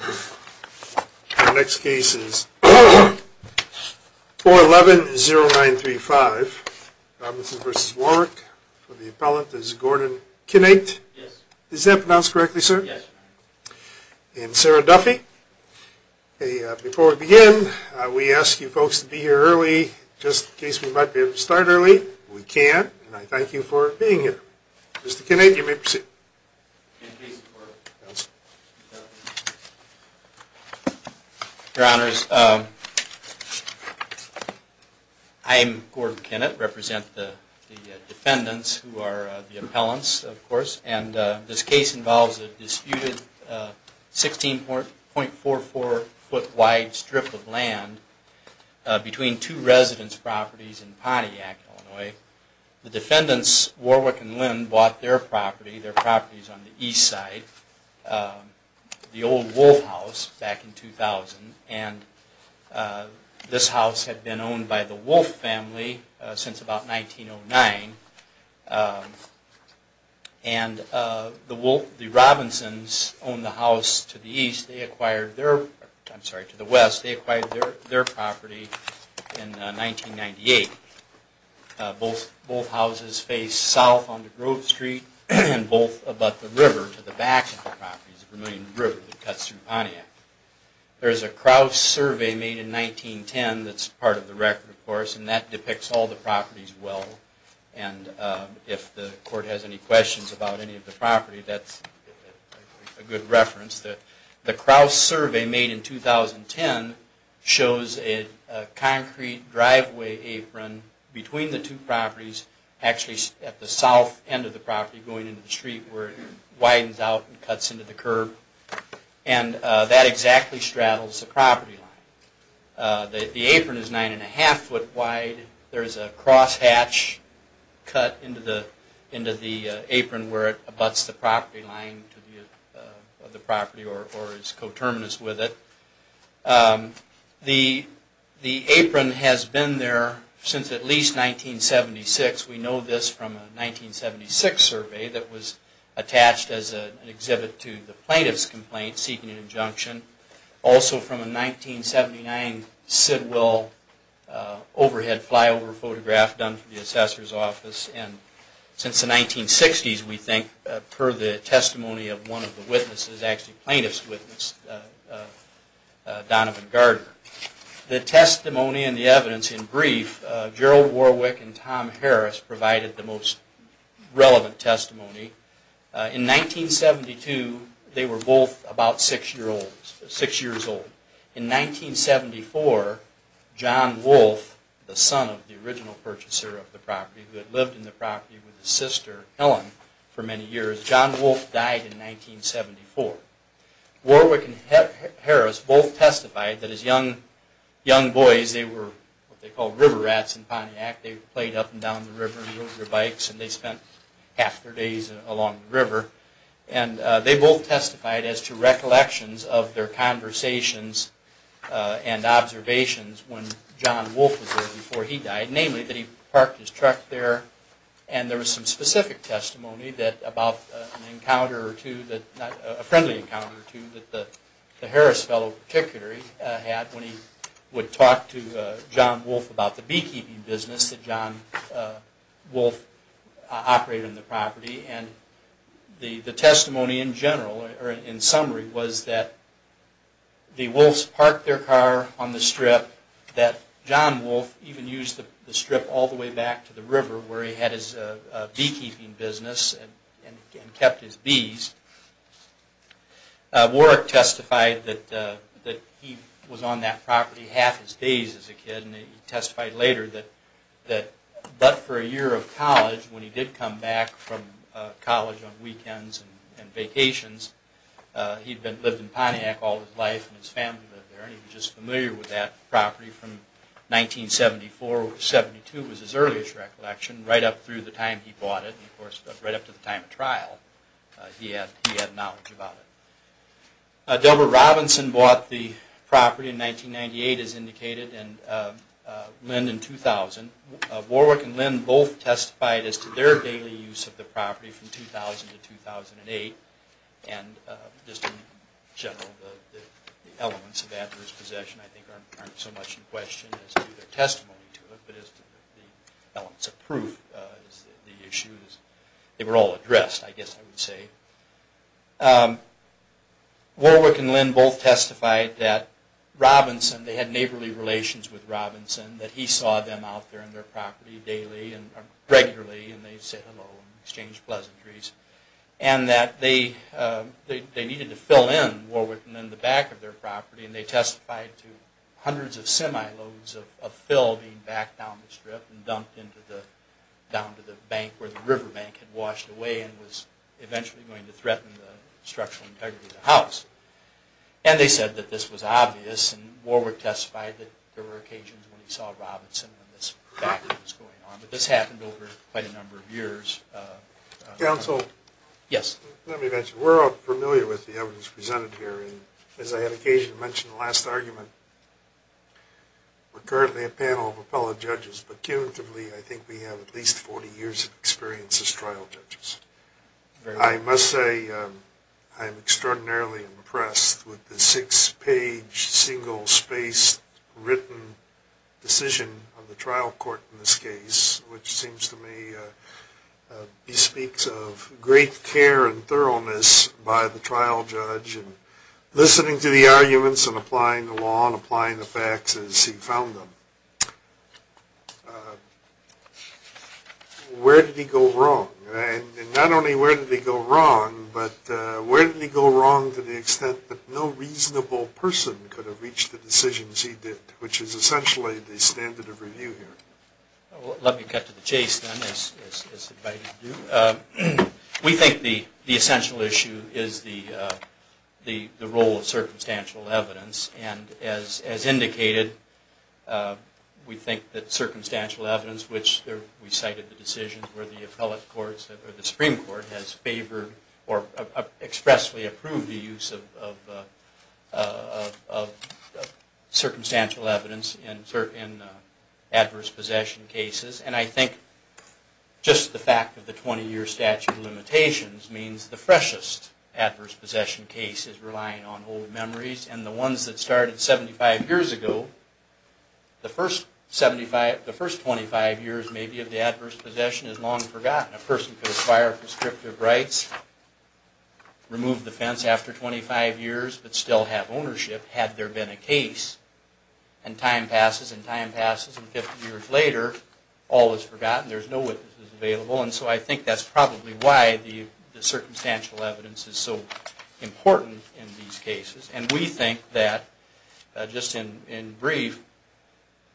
Our next case is 4110935 Robinson v. Warwick. For the appellant is Gordon Kinnate. Yes. Is that pronounced correctly, sir? Yes. And Sarah Duffy. Before we begin, we ask you folks to be here early just in case we might be able to start early. We can't. And I thank you for being here. Mr. Kinnate, you may proceed. Your Honors, I'm Gordon Kinnate. I represent the defendants who are the appellants, of course. And this case involves a disputed 16.44 foot wide strip of land between two residence properties in Pontiac, Illinois. The defendants, Warwick and Lynn, bought their property, their properties on the east side, the old Wolfe house back in 2000. And this house had been owned by the Wolfe family since about 1909. And the Wolfe, the Robinsons, owned the house to the east. I'm sorry, to the west. They acquired their property in 1998. Both houses face south onto Grove Street and both above the river to the back of the property, the Vermillion River that cuts through Pontiac. There is a Crouse survey made in 1910 that's part of the record, of course, and that depicts all the properties well. And if the court has any questions about any of the property, that's a good reference. The Crouse survey made in 2010 shows a concrete driveway apron between the two properties, actually at the south end of the property going into the street where it widens out and cuts into the curb. And that exactly straddles the property line. The apron is nine and a half foot wide. There is a crosshatch cut into the apron where it abuts the property line of the property or is coterminous with it. The apron has been there since at least 1976. We know this from a 1976 survey that was attached as an exhibit to the plaintiff's complaint seeking an injunction. Also from a 1979 Sidwell overhead flyover photograph done from the assessor's office. And since the 1960s, we think, per the testimony of one of the witnesses, actually plaintiff's witness, Donovan Gardner. The testimony and the evidence in brief, Gerald Warwick and Tom Harris provided the most relevant testimony. In 1972, they were both about six years old. In 1974, John Wolfe, the son of the original purchaser of the property, who had lived in the property with his sister, Ellen, for many years. John Wolfe died in 1974. Warwick and Harris both testified that as young boys, they were what they called river rats in Pontiac. They played up and down the river and rode their bikes and they spent half their days along the river. And they both testified as to recollections of their conversations and observations when John Wolfe was there before he died. Namely, that he parked his truck there and there was some specific testimony about an encounter or two, a friendly encounter or two, that the Harris fellow particularly had when he would talk to John Wolfe about the beekeeping business that John Wolfe operated on the property. And the testimony in general, or in summary, was that the Wolfes parked their car on the strip, that John Wolfe even used the strip all the way back to the river where he had his beekeeping business and kept his bees. Warwick testified that he was on that property half his days as a kid. And he testified later that but for a year of college, when he did come back from college on weekends and vacations, he'd lived in Pontiac all his life and his family lived there. And he was just familiar with that property from 1974. 1972 was his earliest recollection, right up through the time he bought it. Of course, right up to the time of trial, he had knowledge about it. Deborah Robinson bought the property in 1998, as indicated, and Lynn in 2000. Warwick and Lynn both testified as to their daily use of the property from 2000 to 2008. And just in general, the elements of adverse possession, I think, aren't so much in question as to their testimony to it, but as to the elements of proof of the issues. They were all addressed, I guess I would say. Warwick and Lynn both testified that Robinson, they had neighborly relations with Robinson, that he saw them out there on their property daily and regularly, and they'd say hello and exchange pleasantries. And that they needed to fill in Warwick and Lynn, the back of their property, and they testified to hundreds of semi-loads of fill being backed down the strip and dumped down to the bank where the river bank had washed away and was eventually going to threaten the structural integrity of the house. And they said that this was obvious, and Warwick testified that there were occasions when he saw Robinson when this backwoods was going on. But this happened over quite a number of years. Counsel? Yes. Let me mention, we're all familiar with the evidence presented here, and as I had occasion to mention in the last argument, we're currently a panel of appellate judges, but cumulatively I think we have at least 40 years of experience as trial judges. I must say I'm extraordinarily impressed with the six-page, single-spaced, written decision of the trial court in this case, which seems to me bespeaks of great care and thoroughness by the trial judge, and listening to the arguments and applying the law and applying the facts as he found them. Where did he go wrong? And not only where did he go wrong, but where did he go wrong to the extent that no reasonable person could have reached the decisions he did, which is essentially the standard of review here. Let me cut to the chase, then, as invited to do. We think the essential issue is the role of circumstantial evidence, and as indicated, we think that circumstantial evidence, which we cited the decisions where the Supreme Court has favored or expressly approved the use of circumstantial evidence in adverse possession cases, and I think just the fact of the 20-year statute of limitations means the freshest adverse possession case is relying on old memories, and the ones that started 75 years ago, the first 25 years, maybe, of the adverse possession is long forgotten. A person could acquire prescriptive rights, remove the fence after 25 years, but still have ownership, had there been a case, and time passes and time passes, and 50 years later, all is forgotten. There's no witnesses available, and so I think that's probably why the circumstantial evidence is so important in these cases, and we think that, just in brief,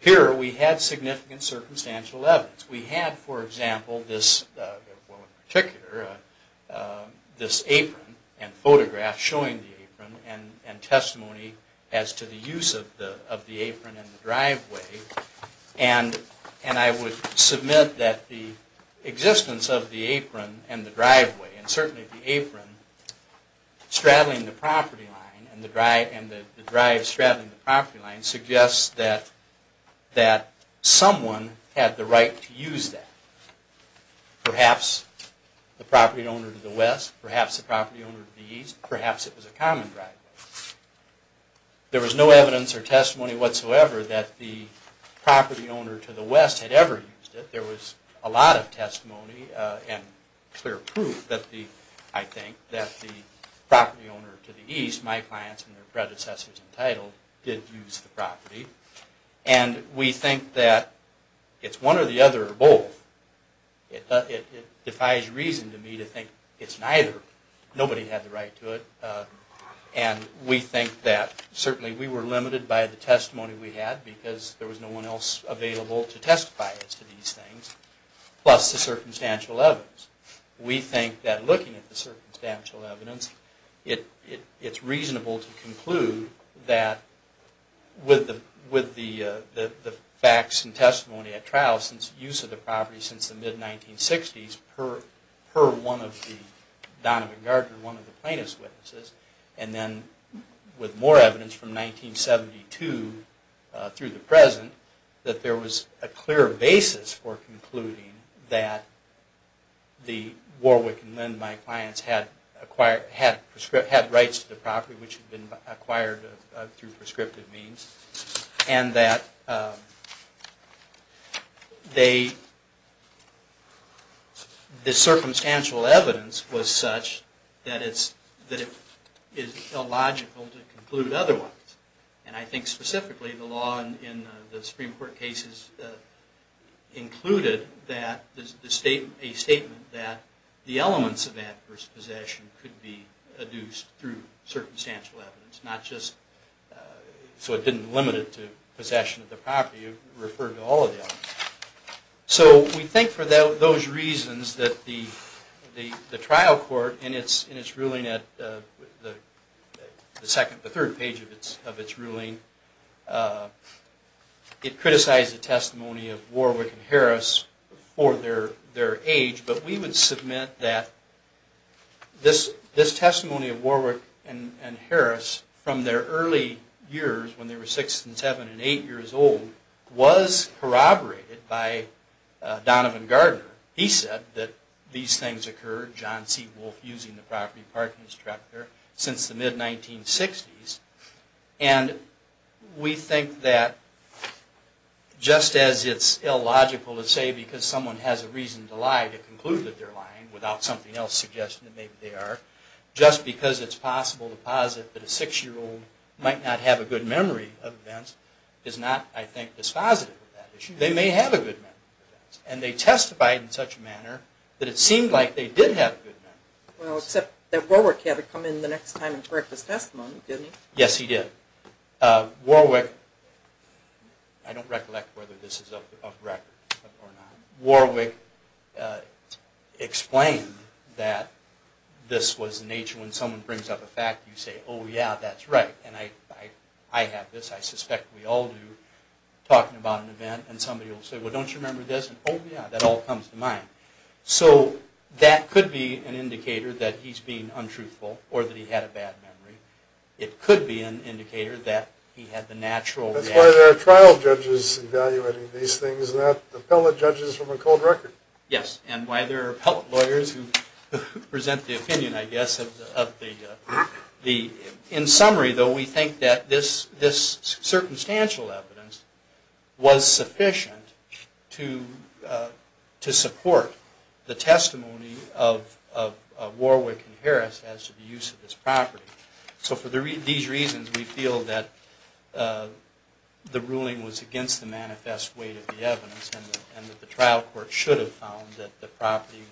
here we had significant circumstantial evidence. We had, for example, this, well, in particular, this apron and photograph showing the apron and testimony as to the use of the apron in the driveway, and I would submit that the existence of the apron in the driveway, and certainly the apron straddling the property line and the drive straddling the property line, suggests that someone had the right to use that. Perhaps the property owner to the west, perhaps the property owner to the east, perhaps it was a common driveway. There was no evidence or testimony whatsoever that the property owner to the west had ever used it. There was a lot of testimony and clear proof, I think, that the property owner to the east, my clients and their predecessors entitled, did use the property, and we think that it's one or the other or both. It defies reason to me to think it's neither. Nobody had the right to it, and we think that certainly we were limited by the testimony we had because there was no one else available to testify as to these things, plus the circumstantial evidence. We think that looking at the circumstantial evidence, it's reasonable to conclude that with the facts and testimony at trial, since use of the property since the mid-1960s, per one of the Donovan Gardner, one of the plaintiff's witnesses, and then with more evidence from 1972 through the present, that there was a clear basis for concluding that the Warwick and Linn, my clients, had rights to the property which had been acquired through prescriptive means, and that the circumstantial evidence was such that it's illogical to conclude otherwise. And I think specifically the law in the Supreme Court cases included a statement that the elements of adverse possession could be adduced through circumstantial evidence, not just so it didn't limit it to possession of the property. It referred to all of the elements. So we think for those reasons that the trial court in its ruling, the third page of its ruling, it criticized the testimony of Warwick and Harris for their age, but we would submit that this testimony of Warwick and Harris from their early years, when they were six and seven and eight years old, was corroborated by Donovan Gardner. He said that these things occurred, John C. Wolfe using the property parking structure, since the mid-1960s, and we think that just as it's illogical to say because someone has a reason to lie or a clue that they're lying without something else suggesting that maybe they are, just because it's possible to posit that a six-year-old might not have a good memory of events is not, I think, dispositive of that issue. They may have a good memory of events, and they testified in such a manner that it seemed like they did have a good memory of events. Well except that Warwick had to come in the next time and correct his testimony, didn't he? Yes, he did. Warwick, I don't recollect whether this is of record or not, Warwick explained that this was the nature when someone brings up a fact, you say, oh yeah, that's right, and I have this, I suspect we all do, talking about an event, and somebody will say, well don't you remember this, and oh yeah, that all comes to mind. So that could be an indicator that he's being untruthful or that he had a bad memory. It could be an indicator that he had the natural reaction. That's why there are trial judges evaluating these things, not appellate judges from a cold record. Yes, and why there are appellate lawyers who present the opinion, I guess, of the, in summary, though, we think that this circumstantial evidence was sufficient to support the testimony of Warwick and Harris as to the use of this property. So for these reasons, we feel that the ruling was against the manifest weight of the evidence and that the trial court should have found that the property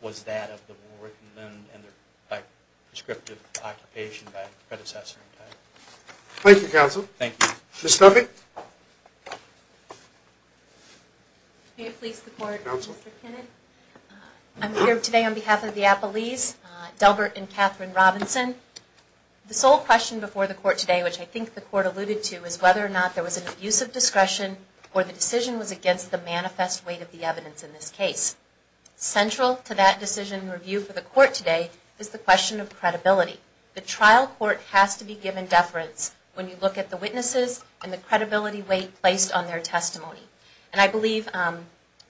was that of the Warwick and Lind and their prescriptive occupation by the predecessor. Thank you, counsel. Thank you. Ms. Nugget. May it please the court. Counsel. I'm here today on behalf of the appellees, Delbert and Catherine Robinson. The sole question before the court today, which I think the court alluded to, is whether or not there was an abuse of discretion or the decision was against the manifest weight of the evidence in this case. Central to that decision review for the court today is the question of credibility. The trial court has to be given deference when you look at the witnesses and the credibility weight placed on their testimony. And I believe,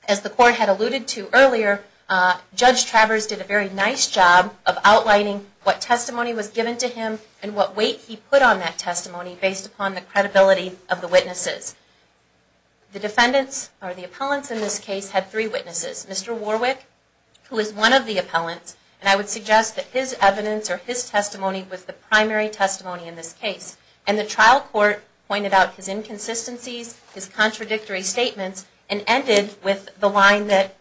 as the court had alluded to earlier, Judge Travers did a very nice job of outlining what testimony was given to him and what weight he put on that testimony based upon the credibility of the witnesses. The defendants, or the appellants in this case, had three witnesses. Mr. Warwick, who is one of the appellants, and I would suggest that his evidence or his testimony was the primary testimony in this case. And the trial court pointed out his inconsistencies, his contradictory statements, and ended with the line that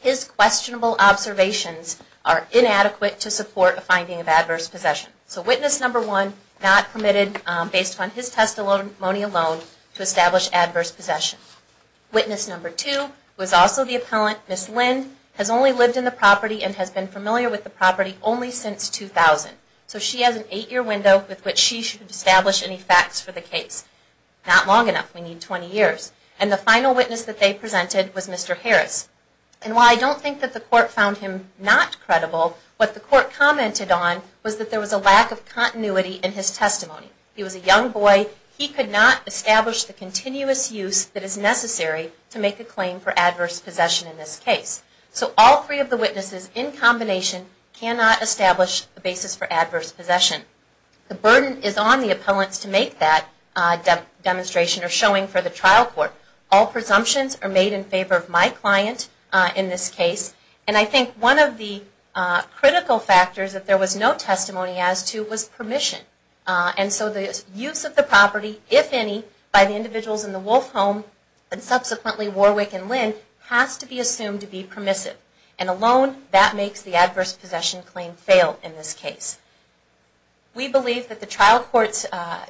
his questionable observations are inadequate to support a finding of adverse possession. So witness number one, not permitted based upon his testimony alone to establish adverse possession. Witness number two, who is also the appellant, Ms. Lind, has only lived in the property and has been familiar with the property only since 2000. So she has an eight-year window with which she should establish any facts for the case. Not long enough. We need 20 years. And the final witness that they presented was Mr. Harris. And while I don't think that the court found him not credible, what the court commented on was that there was a lack of continuity in his testimony. He was a young boy. He could not establish the continuous use that is necessary to make a claim for adverse possession in this case. So all three of the witnesses in combination cannot establish a basis for adverse possession. The burden is on the appellants to make that demonstration or showing for the trial court. All presumptions are made in favor of my client in this case. And I think one of the critical factors that there was no testimony as to was permission. And so the use of the property, if any, by the individuals in the Wolfe home, and subsequently Warwick and Lind, has to be assumed to be permissive. And alone, that makes the adverse possession claim fail in this case. We believe that the trial court's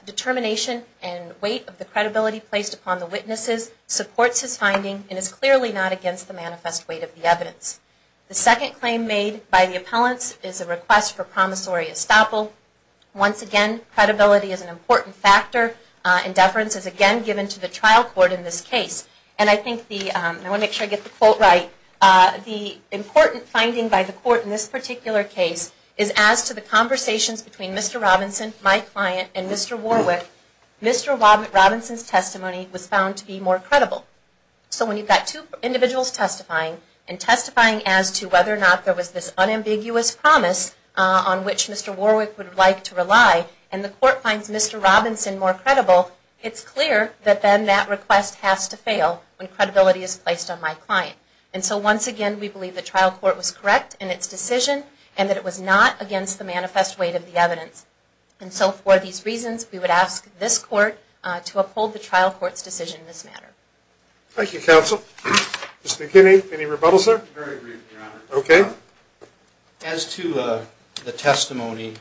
determination and weight of the credibility placed upon the witnesses supports his finding and is clearly not against the manifest weight of the evidence. The second claim made by the appellants is a request for promissory estoppel. Once again, credibility is an important factor. And deference is again given to the trial court in this case. And I think the, I want to make sure I get the quote right, the important finding by the court in this particular case is as to the conversations between Mr. Robinson, my client, and Mr. Warwick, Mr. Robinson's testimony was found to be more credible. So when you've got two individuals testifying and testifying as to whether or not there was this and the court finds Mr. Robinson more credible, it's clear that then that request has to fail when credibility is placed on my client. And so once again, we believe the trial court was correct in its decision and that it was not against the manifest weight of the evidence. And so for these reasons, we would ask this court to uphold the trial court's decision in this matter. Thank you, counsel. Mr. McKinney, any rebuttals there? Very briefly, Your Honor. Okay. As to the testimony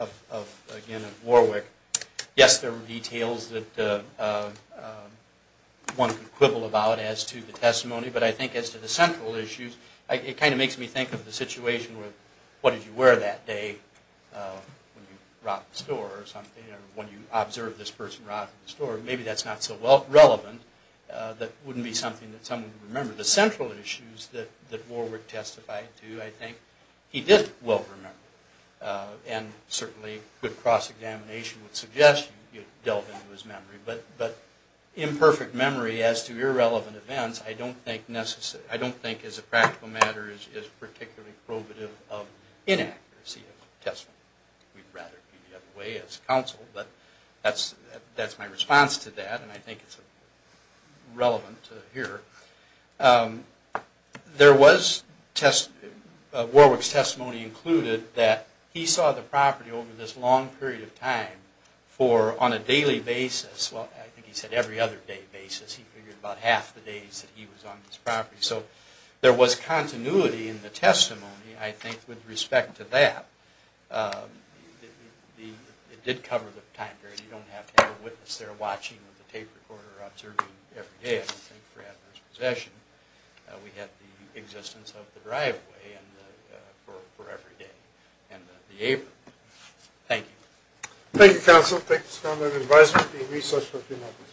of, again, of Warwick, yes, there were details that one could quibble about as to the testimony, but I think as to the central issues, it kind of makes me think of the situation with what did you wear that day when you robbed the store or something or when you observed this person robbing the store. Maybe that's not so relevant. That wouldn't be something that someone would remember. As to the central issues that Warwick testified to, I think he did well remember and certainly good cross-examination would suggest you delve into his memory. But imperfect memory as to irrelevant events, I don't think as a practical matter is particularly probative of inaccuracy of testimony. We'd rather do it the other way as counsel, but that's my response to that and I think it's relevant to hear. Warwick's testimony included that he saw the property over this long period of time on a daily basis. Well, I think he said every other day basis. He figured about half the days that he was on this property. So there was continuity in the testimony, I think, with respect to that. It did cover the time period. You don't have to have a witness there watching with a tape recorder observing every day. I don't think we have this possession. We have the existence of the driveway for every day and the apron. Thank you. Thank you, counsel. Thank you, Mr. Conlon. Advice would be a resource for a few minutes.